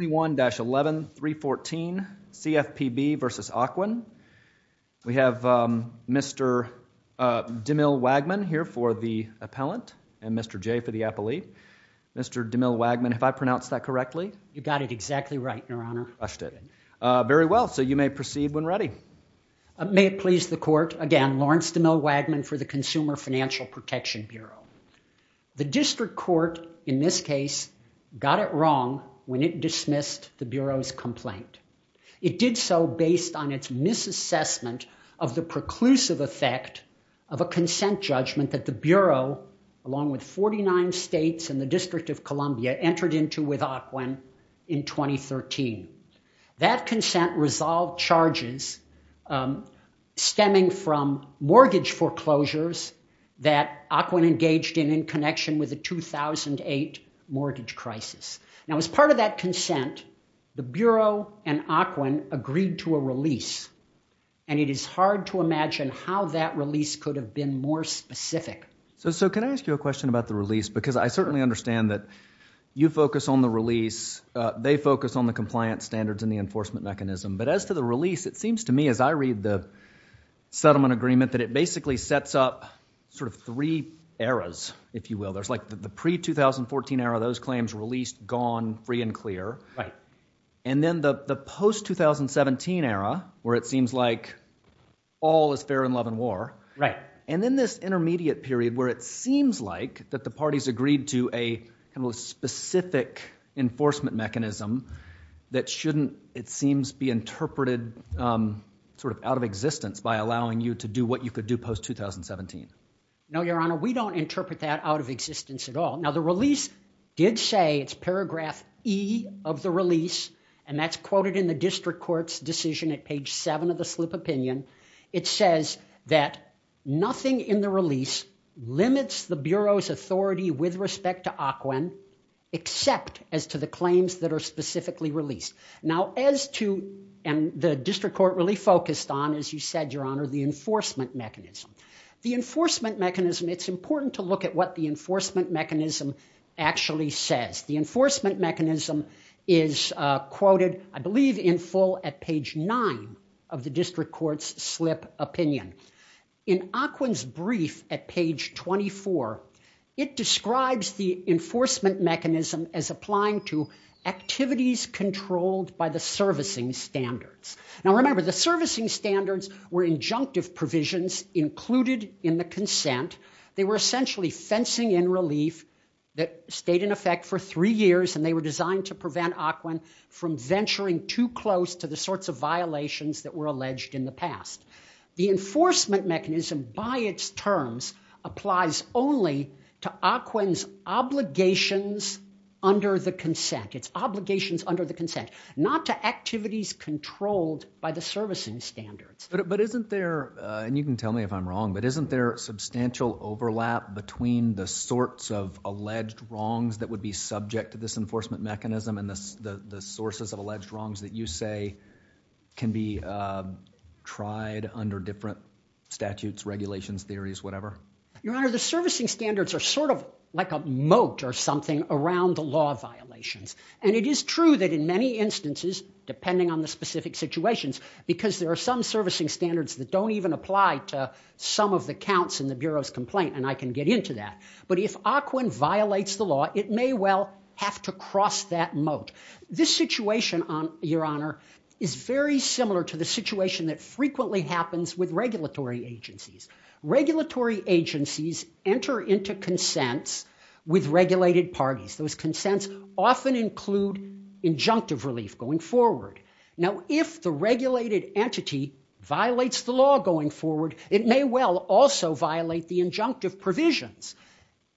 11314 CFPB v. Ocwen. We have Mr. DeMille Wagman here for the appellant and Mr. Jay for the appellee. Mr. DeMille Wagman, have I pronounced that correctly? You got it exactly right, Your Honor. Very well. So you may proceed when ready. May it please the Court. Again, Lawrence DeMille Wagman for the Consumer Financial Protection Bureau. The District Court in this case got it wrong when it dismissed the Bureau's complaint. It did so based on its misassessment of the preclusive effect of a consent judgment that the Bureau, along with 49 states and the District of Columbia, entered into with Ocwen in 2013. That consent resolved charges stemming from mortgage foreclosures that Ocwen and Ocwen engaged in in connection with the 2008 mortgage crisis. Now as part of that consent, the Bureau and Ocwen agreed to a release, and it is hard to imagine how that release could have been more specific. So can I ask you a question about the release? Because I certainly understand that you focus on the release, they focus on the compliance standards and the enforcement mechanism. But as to the release, it seems to me as I read the settlement agreement that it basically sets up sort of three eras, if you will. There's like the pre-2014 era, those claims released, gone, free and clear. And then the post-2017 era where it seems like all is fair in love and war. And then this intermediate period where it seems like that the parties agreed to a kind of specific enforcement mechanism that shouldn't, it seems, be interpreted sort of by allowing you to do what you could do post-2017. No, Your Honor, we don't interpret that out of existence at all. Now the release did say, it's paragraph E of the release, and that's quoted in the district court's decision at page seven of the slip opinion. It says that nothing in the release limits the Bureau's authority with respect to Ocwen except as to the claims that are specifically released. Now as to, and the district court really focused on, as you said, Your Honor, the enforcement mechanism. The enforcement mechanism, it's important to look at what the enforcement mechanism actually says. The enforcement mechanism is quoted, I believe, in full at page nine of the district court's slip opinion. In Ocwen's brief at page 24, it describes the enforcement mechanism as applying to activities controlled by the servicing standards. Now remember, the servicing standards were injunctive provisions included in the consent. They were essentially fencing in relief that stayed in effect for three years, and they were designed to prevent Ocwen from venturing too close to the sorts of violations that were alleged in the past. The enforcement mechanism, by its terms, applies only to Ocwen's obligations under the consent. Its obligations under the consent, not to activities controlled by the servicing standards. But isn't there, and you can tell me if I'm wrong, but isn't there substantial overlap between the sorts of alleged wrongs that would be subject to this enforcement mechanism and the sources of alleged wrongs that you say can be tried under different statutes, regulations, theories, whatever? Your Honor, the servicing standards are sort of like a moat or something around the law violations. And it is true that in many instances, depending on the specific situations, because there are some servicing standards that don't even apply to some of the counts in the Bureau's complaint, and I can get into that. But if Ocwen violates the law, it may well have to be a moat. This situation, Your Honor, is very similar to the situation that frequently happens with regulatory agencies. Regulatory agencies enter into consents with regulated parties. Those consents often include injunctive relief going forward. Now, if the regulated entity violates the law going forward, it may well also violate the injunctive provisions.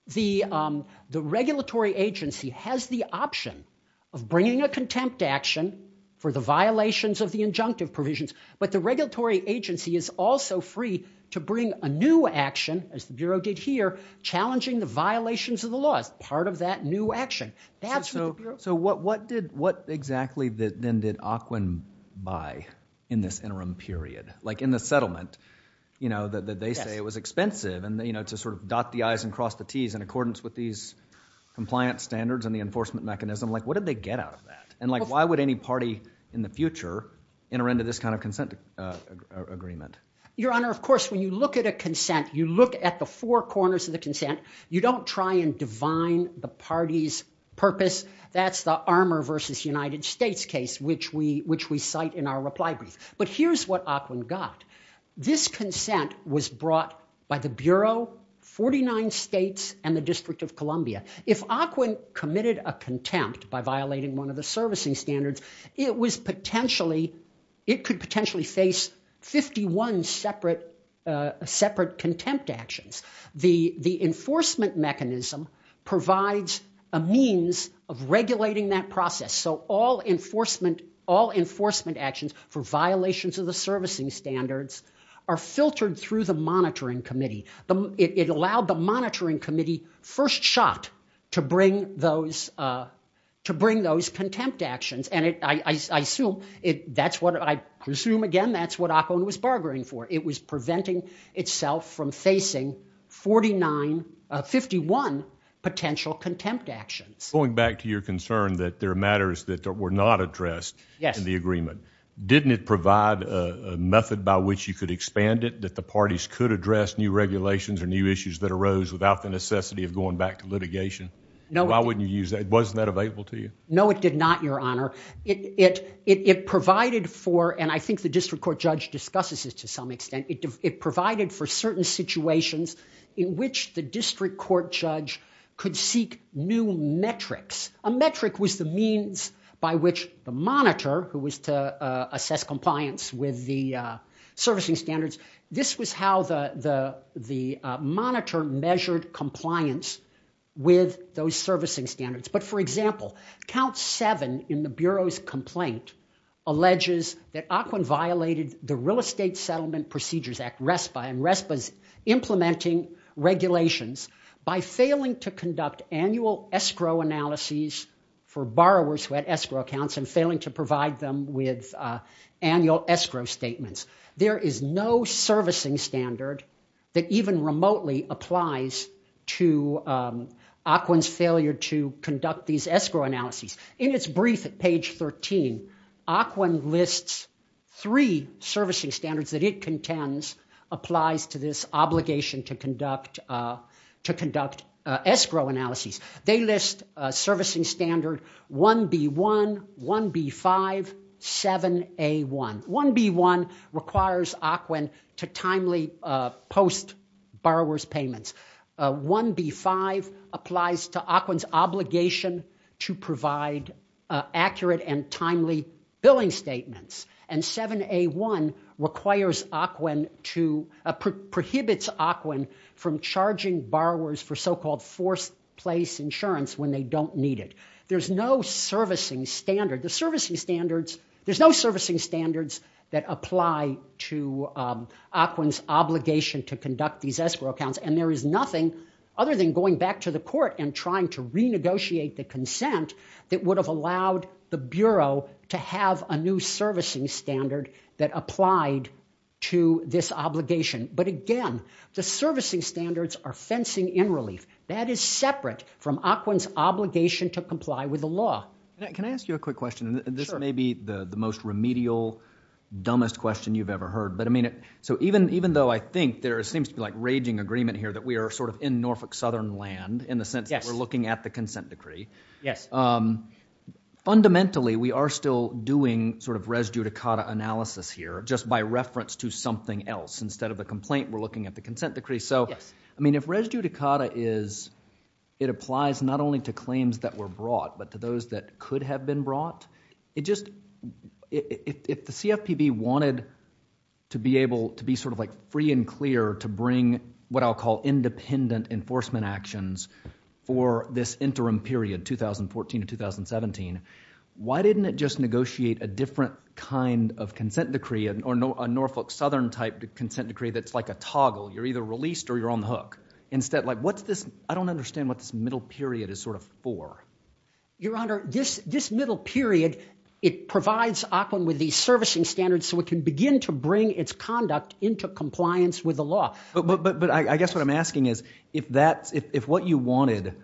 The regulatory agency has the option of bringing a contempt action for the violations of the injunctive provisions, but the regulatory agency is also free to bring a new action, as the Bureau did here, challenging the violations of the law as part of that new action. So what exactly then did Ocwen buy in this interim period? Like in the settlement, you know, to sort of dot the I's and cross the T's in accordance with these compliance standards and the enforcement mechanism, like what did they get out of that? And like why would any party in the future enter into this kind of consent agreement? Your Honor, of course, when you look at a consent, you look at the four corners of the consent. You don't try and divine the party's purpose. That's the Armour v. United States case, which we cite in our reply brief. But here's what Ocwen got. This consent was brought by the Bureau, 49 states, and the District of Columbia. If Ocwen committed a contempt by violating one of the servicing standards, it was potentially, it could potentially face 51 separate contempt actions. The enforcement mechanism provides a means of regulating that process so all enforcement actions for violations of the servicing standards are filtered through the monitoring committee. It allowed the monitoring committee, first shot, to bring those contempt actions. And I assume, that's what, I presume again, that's what Ocwen was bargaining for. It was preventing itself from facing 49, 51 potential contempt actions. Going back to your concern that there are matters that were not addressed in the agreement, didn't it provide a method by which you could expand it that the parties could address new regulations or new issues that arose without the necessity of going back to litigation? No. Why wouldn't you use that? Wasn't that available to you? No, it did not, your honor. It provided for, and I think the district court judge discusses this to some extent, it provided for certain situations in which the district court judge could seek new metrics. A metric was the means by which the monitor, who was to assess compliance with the servicing standards, this was how the monitor measured compliance with those servicing standards. But for example, count 7 in the Bureau's complaint alleges that Ocwen violated the Real Estate Settlement Procedures Act, RESPA, and RESPA's implementing regulations by failing to conduct annual escrow analyses for borrowers who had escrow accounts and failing to provide them with annual escrow statements. There is no servicing standard that even remotely applies to Ocwen's failure to conduct these escrow analyses. In its brief at page 13, Ocwen lists three servicing standards that it contends applies to this obligation to Ocwen. They list servicing standard 1B1, 1B5, 7A1. 1B1 requires Ocwen to timely post-borrowers payments. 1B5 applies to Ocwen's obligation to provide accurate and timely billing statements. And 7A1 requires Ocwen to, prohibits Ocwen from charging borrowers for so-called forced place insurance when they don't need it. There's no servicing standard. The servicing standards, there's no servicing standards that apply to Ocwen's obligation to conduct these escrow accounts and there is nothing other than going back to the court and trying to renegotiate the consent that would have allowed the Bureau to have a new servicing standard that applied to this obligation. But again, the servicing standards are fencing in relief. That is separate from Ocwen's obligation to comply with the law. Can I ask you a quick question? This may be the most remedial, dumbest question you've ever heard. But I mean, so even though I think there seems to be like raging agreement here that we are sort of in Norfolk Southern land in the sense that we're looking at the consent decree. Fundamentally, we are still doing sort of res judicata analysis here just by reference to something else. Instead of the complaint, we're looking at the consent decree. So I mean, if res judicata is, it applies not only to claims that were brought, but to those that could have been brought. It just, if the CFPB wanted to be able to be sort of like free and clear to bring what I'll call independent enforcement actions for this interim period, 2014 to 2017, why didn't it just negotiate a different kind of consent decree or a Norfolk Southern-type consent decree that's like a toggle? You're either released or you're on the hook. Instead, like what's this? I don't understand what this middle period is sort of for. Your Honor, this middle period, it provides Ocwen with these servicing standards so it can begin to bring its conduct into compliance with the law. But I guess what I'm asking is, if what you wanted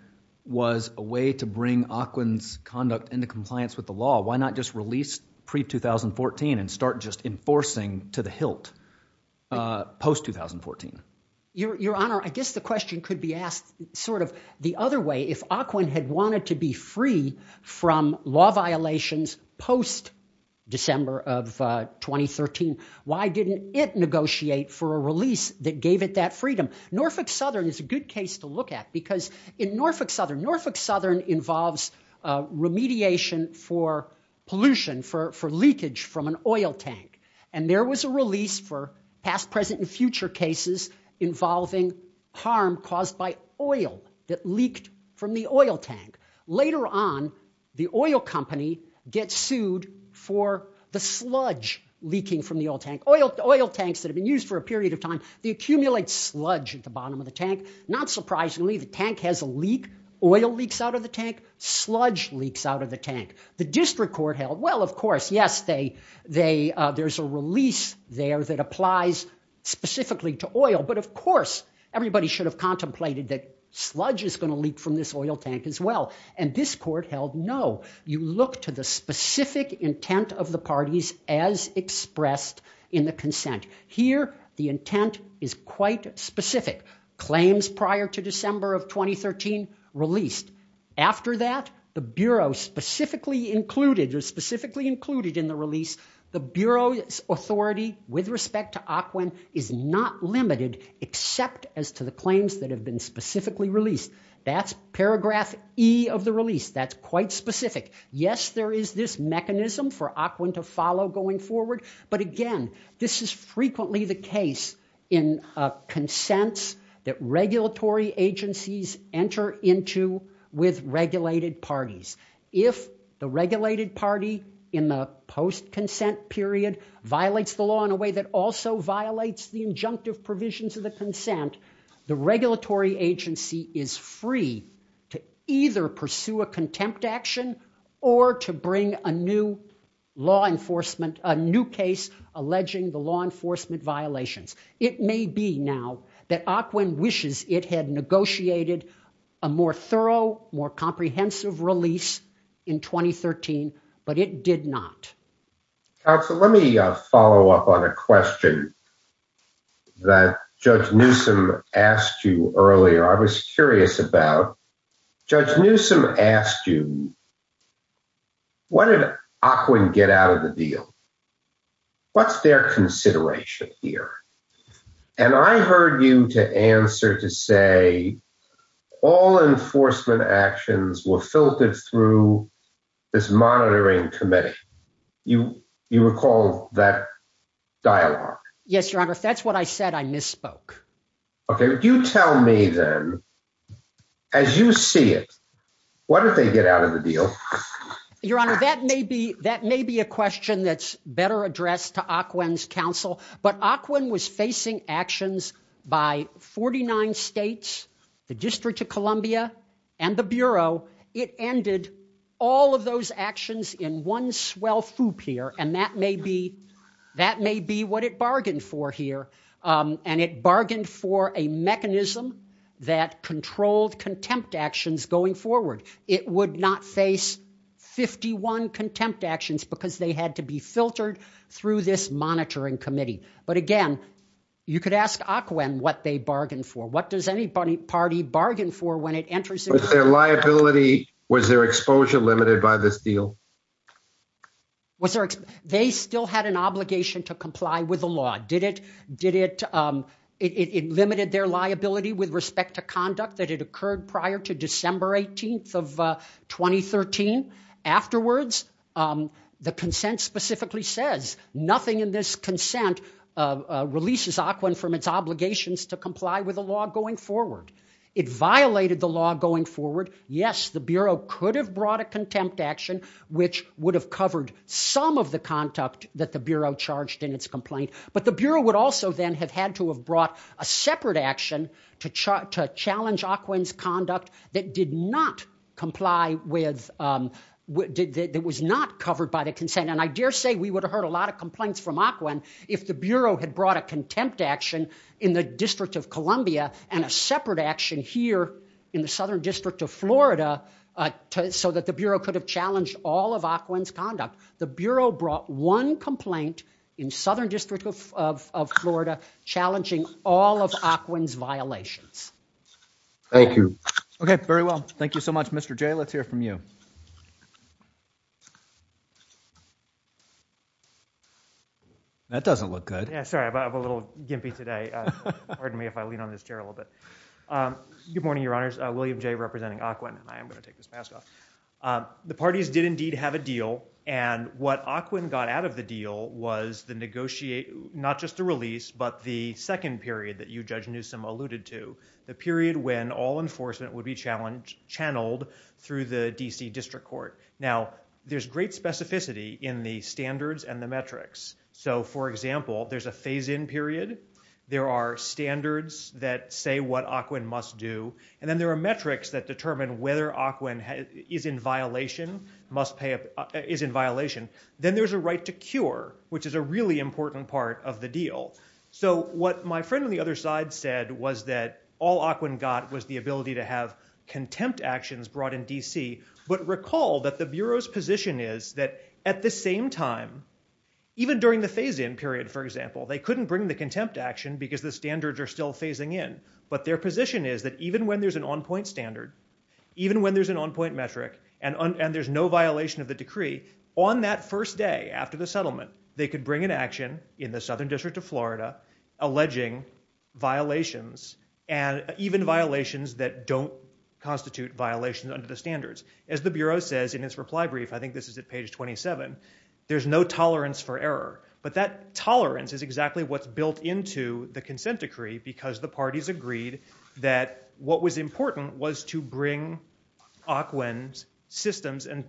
was a way to bring Ocwen's conduct into compliance with the law, why not just release pre-2014 and start just enforcing to the hilt post-2014? Your Honor, I guess the question could be asked sort of the other way. If Ocwen had wanted to be free from law violations post-December of 2013, why didn't it negotiate for a release that gave it that freedom? Norfolk Southern is a good case to look at because in Norfolk there was a litigation for pollution, for leakage from an oil tank. And there was a release for past, present, and future cases involving harm caused by oil that leaked from the oil tank. Later on, the oil company gets sued for the sludge leaking from the oil tank. Oil tanks that have been used for a period of time, they accumulate sludge at the bottom of the tank. Not surprisingly, the tank has a leak, oil leaks out of the tank, sludge leaks out of the tank. The district court held, well, of course, yes, there's a release there that applies specifically to oil. But of course, everybody should have contemplated that sludge is going to leak from this oil tank as well. And this court held no. You look to the specific intent of the parties as expressed in the consent. Here, the intent is quite specific. Claims prior to December of 2013 released. After that, the Bureau specifically included or specifically included in the release, the Bureau's authority with respect to Ocwen is not limited except as to the claims that have been specifically released. That's paragraph E of the release. That's quite specific. Yes, there is this mechanism for Ocwen to follow going forward. But again, this is frequently the case in consents that regulatory agencies enter into with regulated parties. If the regulated party in the post-consent period violates the law in a way that also violates the injunctive provisions of the consent, the regulatory agency is free to either pursue a contempt action or to bring a new law enforcement a new case alleging the law enforcement violations. It may be now that Ocwen wishes it had negotiated a more thorough, more comprehensive release in 2013, but it did not. Counselor, let me follow up on a question that Judge Newsom asked you earlier. I was curious about, Judge Newsom asked you, what did Ocwen get out of the deal? What's their consideration here? And I heard you to answer to say all enforcement actions were filtered through this monitoring committee. You recall that dialogue? Yes, Your Honor. If that's what I said, I misspoke. Okay. You tell me then, as you see it, what did they get out of the deal? Your Honor, that may be a question that's better addressed to Ocwen's counsel, but Ocwen was facing actions by 49 states, the District of Columbia, and the Bureau. It ended all of those actions in one swell foop here, and that may be what it bargained for here. And it bargained for a mechanism that controlled contempt actions going forward. It would not face 51 contempt actions because they had to be filtered through this monitoring committee. But again, you could ask Ocwen what they bargained for. What does any party bargain for when it enters into the- Was their liability, was their exposure limited by this deal? They still had an obligation to comply with the law. It limited their liability with respect to conduct that had occurred prior to December 18th of 2013. Afterwards, the consent specifically says, nothing in this consent releases Ocwen from its obligations to comply with the law going forward. It violated the law going forward. Yes, the Bureau could have brought a contempt action, which would have covered some of the conduct that the Bureau charged in its complaint. But the Bureau would also then have had to have brought a separate action to challenge Ocwen's conduct that did not comply with- that was not covered by the consent. And I dare say we would have heard a lot of complaints from Ocwen if the Bureau had brought a contempt action in the District of Columbia and a separate action here in the Southern District of Florida so that the Bureau could have challenged all of Ocwen's conduct. The Bureau brought one complaint in Southern District of Florida challenging all of Ocwen's violations. Thank you. Okay, very well. Thank you so much. Mr. Jay, let's hear from you. That doesn't look good. Yeah, sorry. I'm a little gimpy today. Pardon me if I lean on this chair a little bit. Good morning, Your Honors. William Jay representing Ocwen. I am going to take this mask off. The way that Ocwen got out of the deal was not just the release, but the second period that you, Judge Newsom, alluded to, the period when all enforcement would be channeled through the D.C. District Court. Now, there's great specificity in the standards and the metrics. So for example, there's a phase-in period. There are standards that say what Ocwen must do. And then there are metrics that determine whether Ocwen is in violation. Then there's a right to cure, which is a really important part of the deal. So what my friend on the other side said was that all Ocwen got was the ability to have contempt actions brought in D.C. But recall that the Bureau's position is that at the same time, even during the phase-in period, for example, they couldn't bring the contempt action because the standards are still phasing in. But their position is that even when there's an on-point standard, even when there's an on-point metric and there's no violation of the decree, on that first day after the settlement, they could bring an action in the Southern District of Florida alleging violations and even violations that don't constitute violations under the standards. As the Bureau says in its reply brief, I think this is at page 27, there's no tolerance for because the parties agreed that what was important was to bring Ocwen's systems and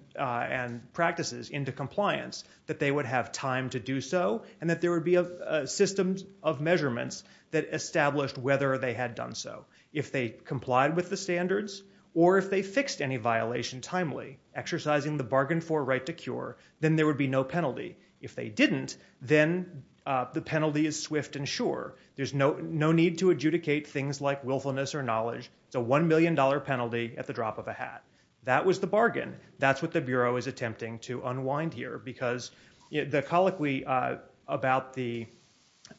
practices into compliance, that they would have time to do so, and that there would be a system of measurements that established whether they had done so. If they complied with the standards or if they fixed any violation timely, exercising the bargain for right to cure, then there would be no penalty. If they didn't, then the penalty is swift and sure. There's no need to adjudicate things like willfulness or knowledge. It's a $1 million penalty at the drop of a hat. That was the bargain. That's what the Bureau is attempting to unwind here because the colloquy about the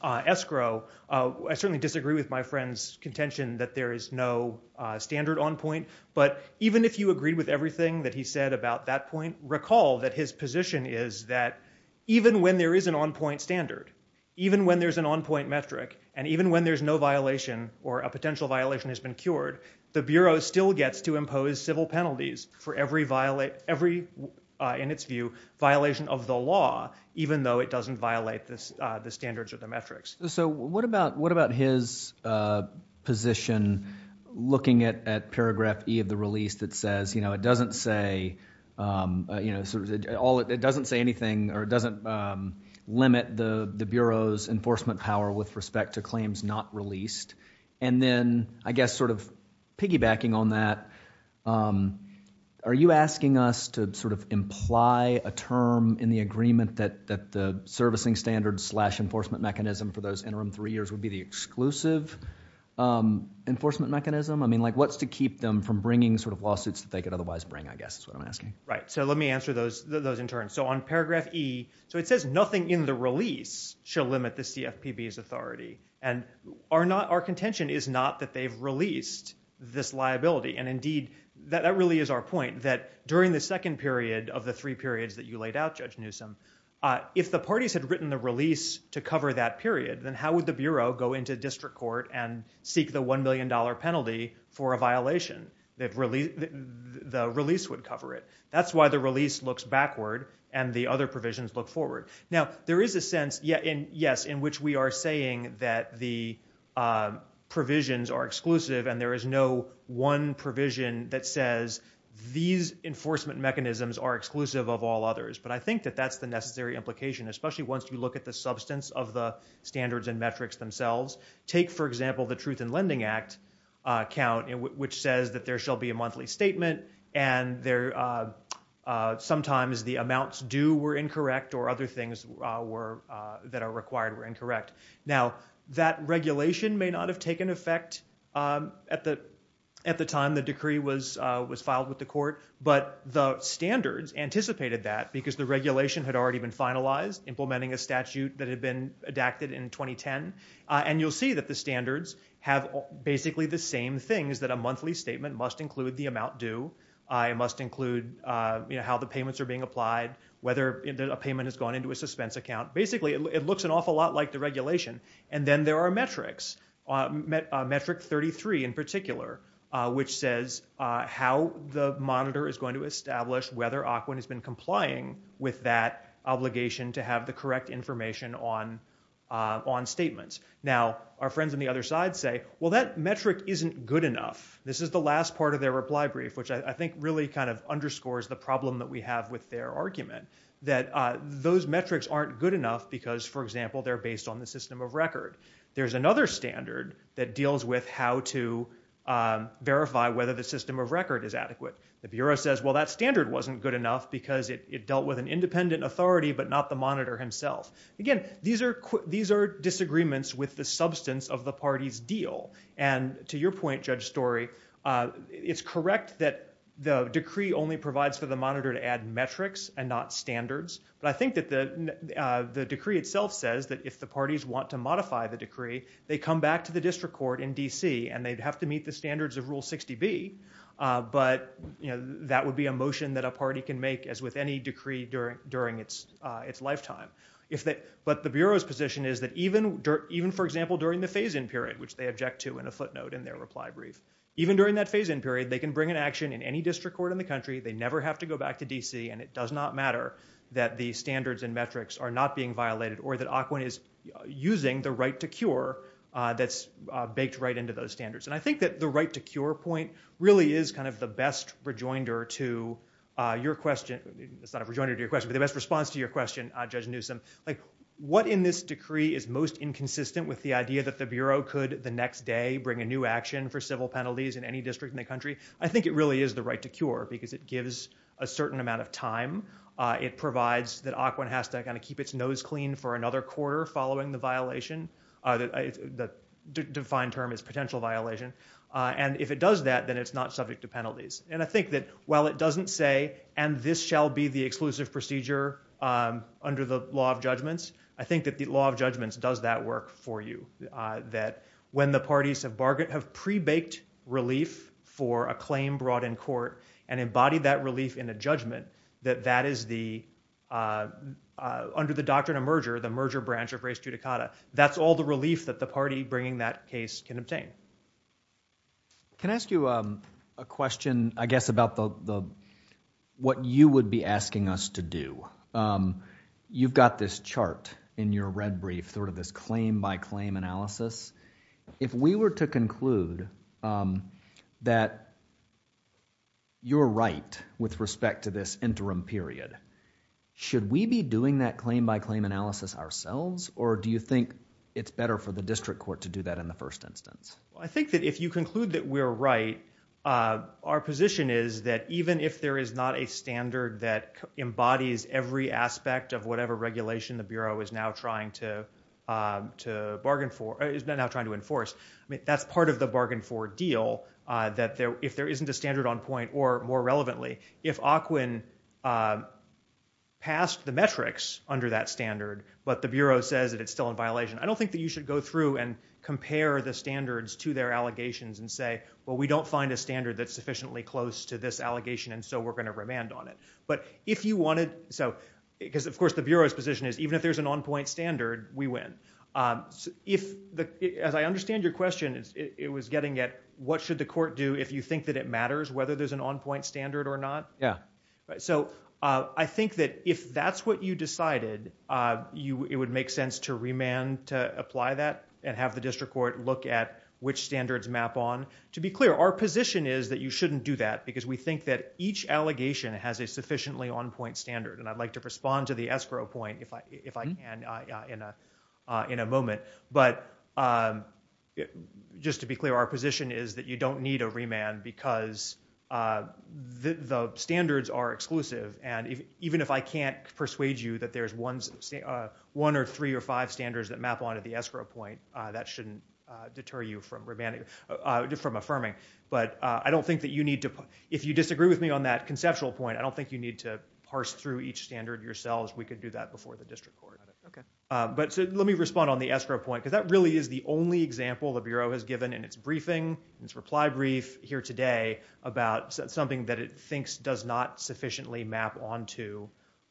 escrow, I certainly disagree with my friend's contention that there is no standard on-point, but even if you agreed with everything that he said about that point, recall that his position is that even when there is an on-point standard, even when there's an on-point metric, and even when there's no violation or a potential violation has been cured, the Bureau still gets to impose civil penalties for every, in its view, violation of the law, even though it doesn't violate the standards or the metrics. So what about his position looking at paragraph E of the release that says it doesn't say anything, or it doesn't limit the Bureau's enforcement power with respect to claims not released, and then, I guess, sort of piggybacking on that, are you asking us to sort of imply a term in the agreement that the servicing standards slash enforcement mechanism for those interim three years would be the exclusive enforcement mechanism? I mean, like, what's going to keep them from bringing sort of lawsuits that they could otherwise bring, I guess, is what I'm asking. Right. So let me answer those in turn. So on paragraph E, so it says nothing in the release shall limit the CFPB's authority, and our contention is not that they've released this liability, and indeed, that really is our point, that during the second period of the three periods that you laid out, Judge Newsom, if the parties had written the release to cover that period, then how would the Bureau go into district court and seek the $1 million penalty for a violation? The release would cover it. That's why the release looks backward, and the other provisions look forward. Now, there is a sense, yes, in which we are saying that the provisions are exclusive, and there is no one provision that says these enforcement mechanisms are exclusive of all others, but I think that that's the necessary implication, especially once you look at the substance of the standards and metrics themselves. Take, for example, the Truth in Lending Act count, which says that there shall be a monthly statement, and sometimes the amounts due were incorrect, or other things that are required were incorrect. Now, that regulation may not have taken effect at the time the decree was filed with the court, but the standards anticipated that, because the regulation had already been finalized, implementing a statute that had been adapted in 2010, and you'll see that the standards have basically the same things, that a monthly statement must include the amount due, it must include how the payments are being applied, whether a payment has gone into a suspense account. Basically, it looks an awful lot like the regulation, and then there are metrics, metric 33 in particular, which says how the monitor is going to establish whether OCWIN has been complying with that obligation to have the correct information on statements. Now, our friends on the other side say, well, that metric isn't good enough. This is the last part of their reply brief, which I think really kind of underscores the problem that we have with their argument, that those metrics aren't good enough because, for example, they're based on the system of record. There's another standard that deals with how to verify whether the system of record is adequate. The Bureau says, well, that standard wasn't good enough because it dealt with an independent authority, but not the monitor himself. Again, these are disagreements with the substance of the party's deal, and to your point, Judge Story, it's correct that the decree only provides for the monitor to add metrics and not standards, but I think that the decree itself says that if the parties want to modify the decree, they come back to the district court in D.C. and they'd have to meet the standards of Rule 60B, but that would be a motion that a party can make as with any decree during its lifetime. But the Bureau's position is that even, for example, during the phase-in period, which they object to in a footnote in their reply brief, even during that phase-in period, they can bring an action in any district court in the country. They never have to go back to D.C., and it does not matter that the standards and metrics are not being violated or that it's baked right into those standards. And I think that the right-to-cure point really is kind of the best rejoinder to your question. It's not a rejoinder to your question, but the best response to your question, Judge Newsom. What in this decree is most inconsistent with the idea that the Bureau could, the next day, bring a new action for civil penalties in any district in the country? I think it really is the right-to-cure because it gives a certain amount of time. It provides that ACWA has to kind of keep its nose clean for the violation. The defined term is potential violation. And if it does that, then it's not subject to penalties. And I think that while it doesn't say, and this shall be the exclusive procedure under the law of judgments, I think that the law of judgments does that work for you. That when the parties have pre-baked relief for a claim brought in court and embodied that relief in a judgment, that that is the, under the doctrine of merger, the merger branch of res judicata, that's all the relief that the party bringing that case can obtain. Can I ask you a question, I guess, about what you would be asking us to do? You've got this chart in your red brief, sort of this claim by claim analysis. If we were to conclude that you're right with respect to this interim period, should we be doing that claim by claim analysis ourselves? Or do you think it's better for the district court to do that in the first instance? Well, I think that if you conclude that we're right, our position is that even if there is not a standard that embodies every aspect of whatever regulation the Bureau is now trying to, to bargain for, is now trying to enforce, I mean, that's part of the bargain for deal, that there, if there isn't a standard on point or more relevantly, if ACWIN passed the metrics under that standard, but the Bureau says that it's still in violation, I don't think that you should go through and compare the standards to their allegations and say, well, we don't find a standard that's sufficiently close to this allegation and so we're going to remand on it. But if you wanted, so, because of course the Bureau's position is even if there's an on point standard, we win. If the, as I understand your question, it was getting at what should the court do if you think that it matters whether there's an on point standard or not? Yeah. So, I think that if that's what you decided, you, it would make sense to remand to apply that and have the district court look at which standards map on. To be clear, our position is that you shouldn't do that because we think that each allegation has a sufficiently on point standard and I'd like to respond to the escrow point if I, if I can, in a, in a moment. But just to be clear, our position is that you don't need a remand because the standards are exclusive and even if I can't persuade you that there's one, one or three or five standards that map onto the escrow point, that shouldn't deter you from remanding, from affirming. But I don't think that you need to, if you disagree with me on that conceptual point, I don't think you need to parse through each standard yourselves. We could do that before the district court. Okay. But, so, let me respond on the escrow point because that really is the only example the Bureau has given in its briefing, its reply brief here today about something that it thinks does not sufficiently map onto,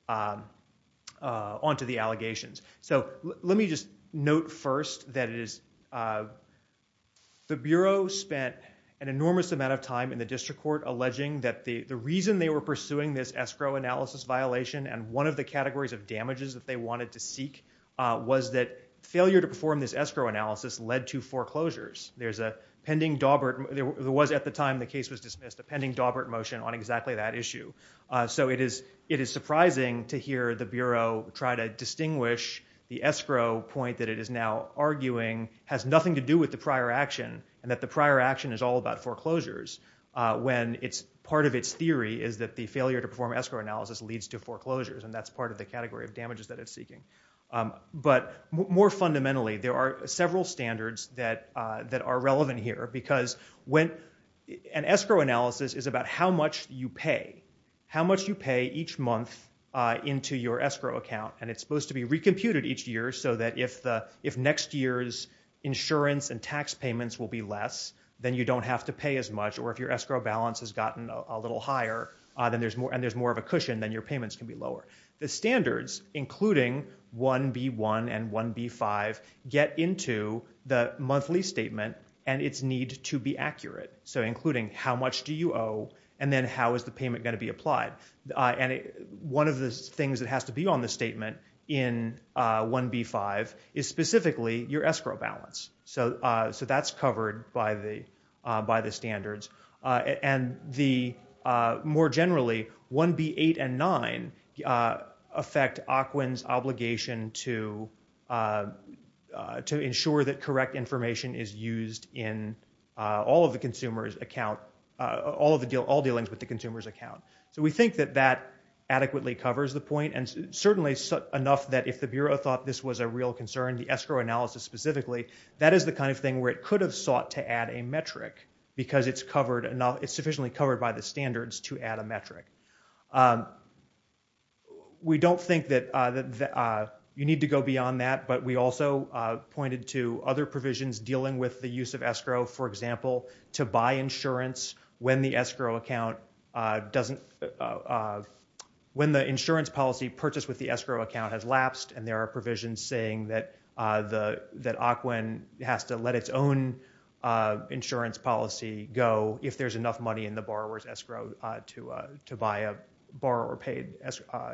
onto the allegations. So, let me just note first that it is, the Bureau spent an enormous amount of time in the district court alleging that the reason they were pursuing this escrow analysis violation and one of the categories of damages that they wanted to seek was that failure to perform this escrow analysis led to foreclosures. There's a pending Daubert, there was at the time the case was dismissed, a pending Daubert motion on exactly that issue. So, it is, it is surprising to hear the Bureau try to distinguish the escrow point that it is now arguing has nothing to do with the prior action and that the prior action is all about foreclosures when it's, part of its theory is that the failure to perform escrow analysis leads to foreclosures and that's part of the category of damages that it's seeking. But more fundamentally, there are several standards that, that are relevant here because when, an escrow analysis is about how much you pay, how much you pay each month into your escrow account and it's supposed to be recomputed each year so that if the, if next year's insurance and tax payments will be less, then you don't have to pay as much or if your escrow balance has gotten a little higher, then there's more, and there's more of a cushion, then your payments can be lower. The standards, including 1B1 and 1B5, get into the monthly statement and its need to be accurate. So, including how much do you owe and then how is the payment going to be applied. And one of the things that has to be on the statement in 1B5 is specifically your escrow balance. So, so that's covered by the, by the standards. And the, more generally, 1B8 and 9 affect OCWIN's obligation to, to ensure that correct information is used in all of the consumer's account, all of the deal, all dealings with the consumer's account. So, we think that that adequately covers the point and certainly enough that if the Bureau thought this was a real concern, the escrow analysis specifically, that is the kind of thing where it could have sought to add a metric because it's covered, it's sufficiently covered by the standards to add a metric. We don't think that you need to go beyond that, but we also pointed to other provisions dealing with the use of escrow, for example, to buy insurance when the escrow account doesn't, when the insurance policy purchased with the escrow account has lapsed and there are provisions saying that the, that OCWIN has to let its own insurance policy go if there's enough money in the borrower's escrow to, to buy a borrower paid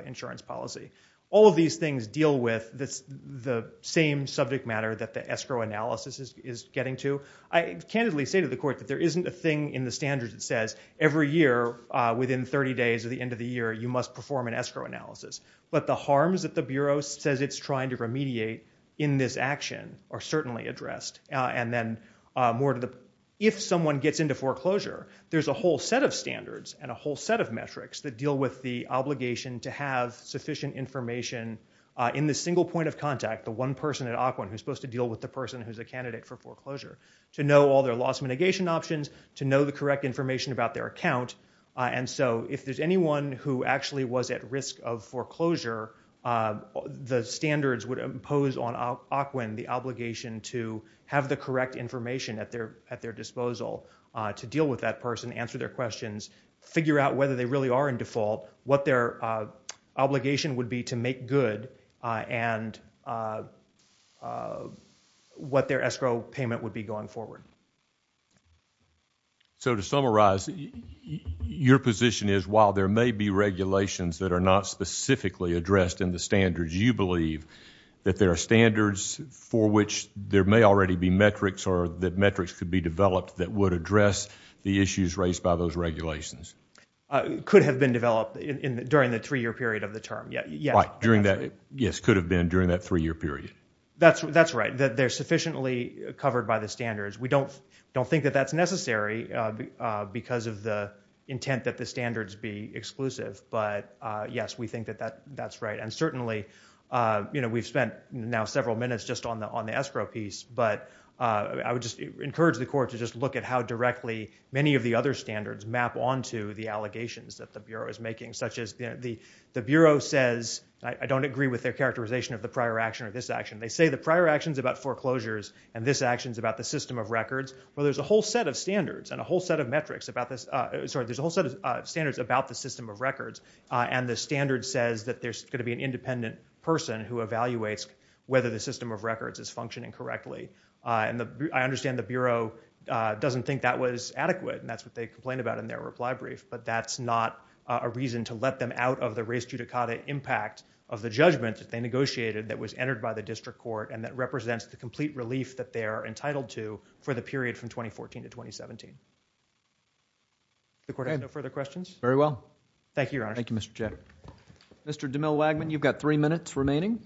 insurance policy. All of these things deal with this, the same subject matter that the escrow analysis is, is getting to. I candidly say to the Court that there isn't a thing in the standards that says every year within 30 days or the end of the year, you must perform an escrow analysis. But the harms that the Bureau says it's trying to remediate in this action are certainly addressed. And then more to the, if someone gets into foreclosure, there's a whole set of standards and a whole set of metrics that deal with the obligation to have sufficient information in the single point of contact, the one person at OCWIN who's supposed to deal with the person who's a candidate for foreclosure, to know all their loss mitigation options, to know the correct information about their account. And so if there's anyone who actually was at risk of information at their, at their disposal, to deal with that person, answer their questions, figure out whether they really are in default, what their obligation would be to make good, and what their escrow payment would be going forward. So to summarize, your position is while there may be regulations that are not specifically addressed in the standards, you believe that there are standards for which there may already be metrics or that metrics could be developed that would address the issues raised by those regulations? Could have been developed during the three-year period of the term, yes. During that, yes, could have been during that three-year period. That's right. They're sufficiently covered by the standards. We don't think that that's necessary because of the intent that the standards be exclusive. But yes, we think that that's right. And certainly, you know, we've spent now several minutes just on the escrow piece, but I would just encourage the Court to just look at how directly many of the other standards map onto the allegations that the Bureau is making, such as the Bureau says, I don't agree with their characterization of the prior action or this action. They say the prior action is about foreclosures and this action is about the system of records. Well, there's a whole set of standards and a whole set of metrics about this, sorry, there's a whole set of metrics about the system of records. And the standard says that there's going to be an independent person who evaluates whether the system of records is functioning correctly. And I understand the Bureau doesn't think that was adequate, and that's what they complained about in their reply brief, but that's not a reason to let them out of the res judicata impact of the judgment that they negotiated that was entered by the District Court and that represents the complete relief that they are entitled to for the period from 2014 to 2017. The Court has no further questions? Very well. Thank you, Your Honor. Thank you, Mr. Chairman. Mr. DeMille-Wagman, you've got three minutes remaining.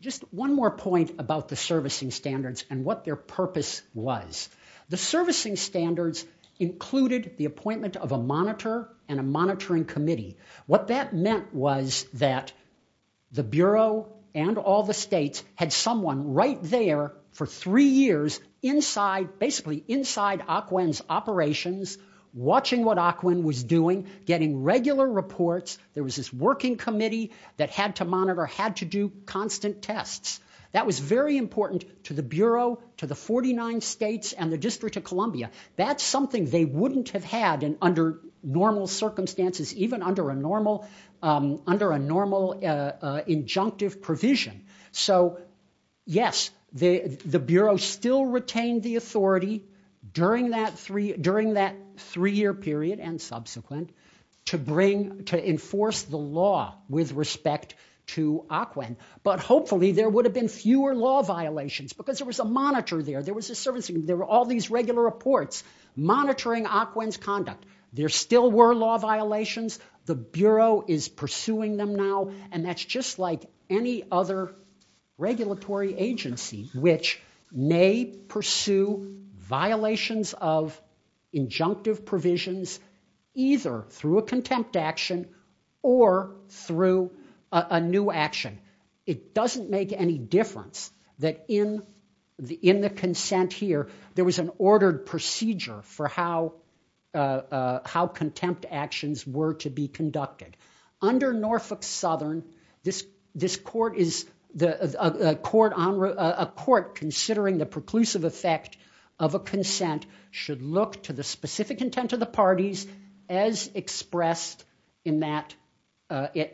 Just one more point about the servicing standards and what their purpose was. The servicing standards included the appointment of a monitor and a monitoring committee. What that meant was that the Bureau and all the states had someone right there for three years inside, basically inside Ocwen's operations, watching what Ocwen was doing, getting regular reports. There was this working committee that had to monitor, had to do constant tests. That was very important to the Bureau, to the 49 states, and the District of Columbia. That's something they wouldn't have had under normal circumstances, even under a normal injunctive provision. So yes, the Bureau still retained the authority during that three-year period and subsequent to enforce the law with respect to Ocwen, but hopefully there would have been fewer law violations because there was a monitor there, there was a servicing, there were all monitoring Ocwen's conduct. There still were law violations. The Bureau is pursuing them now and that's just like any other regulatory agency, which may pursue violations of injunctive provisions either through a contempt action or through a new action. It doesn't make any difference that in the consent here, there was an ordered procedure for how contempt actions were to be conducted. Under Norfolk Southern, a court considering the preclusive effect of a consent should look to the specific intent of the parties as expressed in that This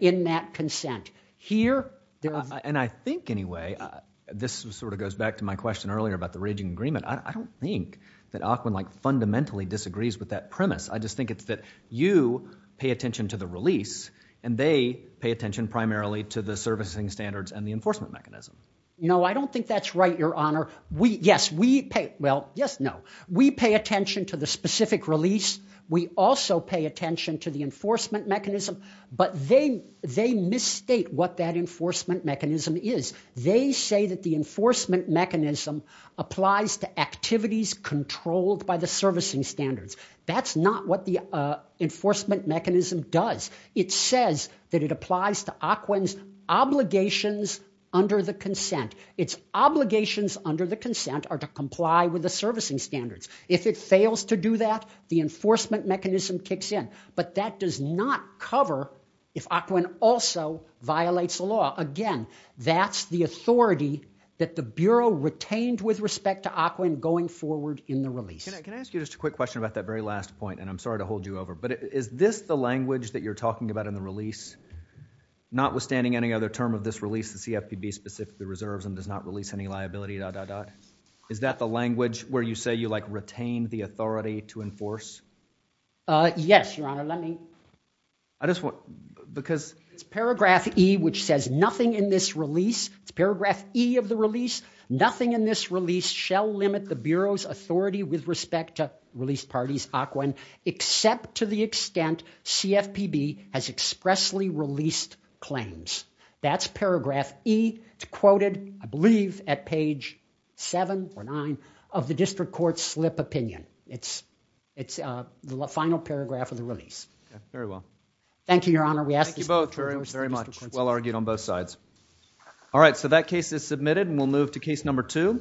sort of goes back to my question earlier about the raging agreement. I don't think that Ocwen like fundamentally disagrees with that premise. I just think it's that you pay attention to the release and they pay attention primarily to the servicing standards and the enforcement mechanism. No, I don't think that's right, Your Honor. We, yes, we pay, well, yes, no. We pay attention to the specific release. We also pay attention to the enforcement mechanism, but they, they misstate what that enforcement mechanism is. They say that the enforcement mechanism applies to activities controlled by the servicing standards. That's not what the enforcement mechanism does. It says that it applies to Ocwen's obligations under the consent. Its obligations under the consent are to comply with the servicing standards. If it fails to do that, the enforcement mechanism kicks in, but that does not cover if Ocwen also violates the law. Again, that's the authority that the Bureau retained with respect to Ocwen going forward in the release. Can I ask you just a quick question about that very last point, and I'm sorry to hold you over, but is this the language that you're talking about in the release? Notwithstanding any other term of this release, the CFPB specifically reserves and does not release any liability dot dot dot. Is that the language where you say you like retain the authority to enforce? Uh, yes, Your Honor. Let me, I just want, because it's paragraph E which says nothing in this release, it's paragraph E of the release, nothing in this release shall limit the Bureau's authority with respect to released parties, Ocwen, except to the extent CFPB has expressly released claims. That's paragraph E. It's quoted, I believe, at page seven or nine of the district court's slip opinion. It's, it's, uh, the final paragraph of the release. Very well. Thank you, Your Honor. We ask you both very, very much. Well argued on both sides. All right, so that case is submitted and we'll move to case number two.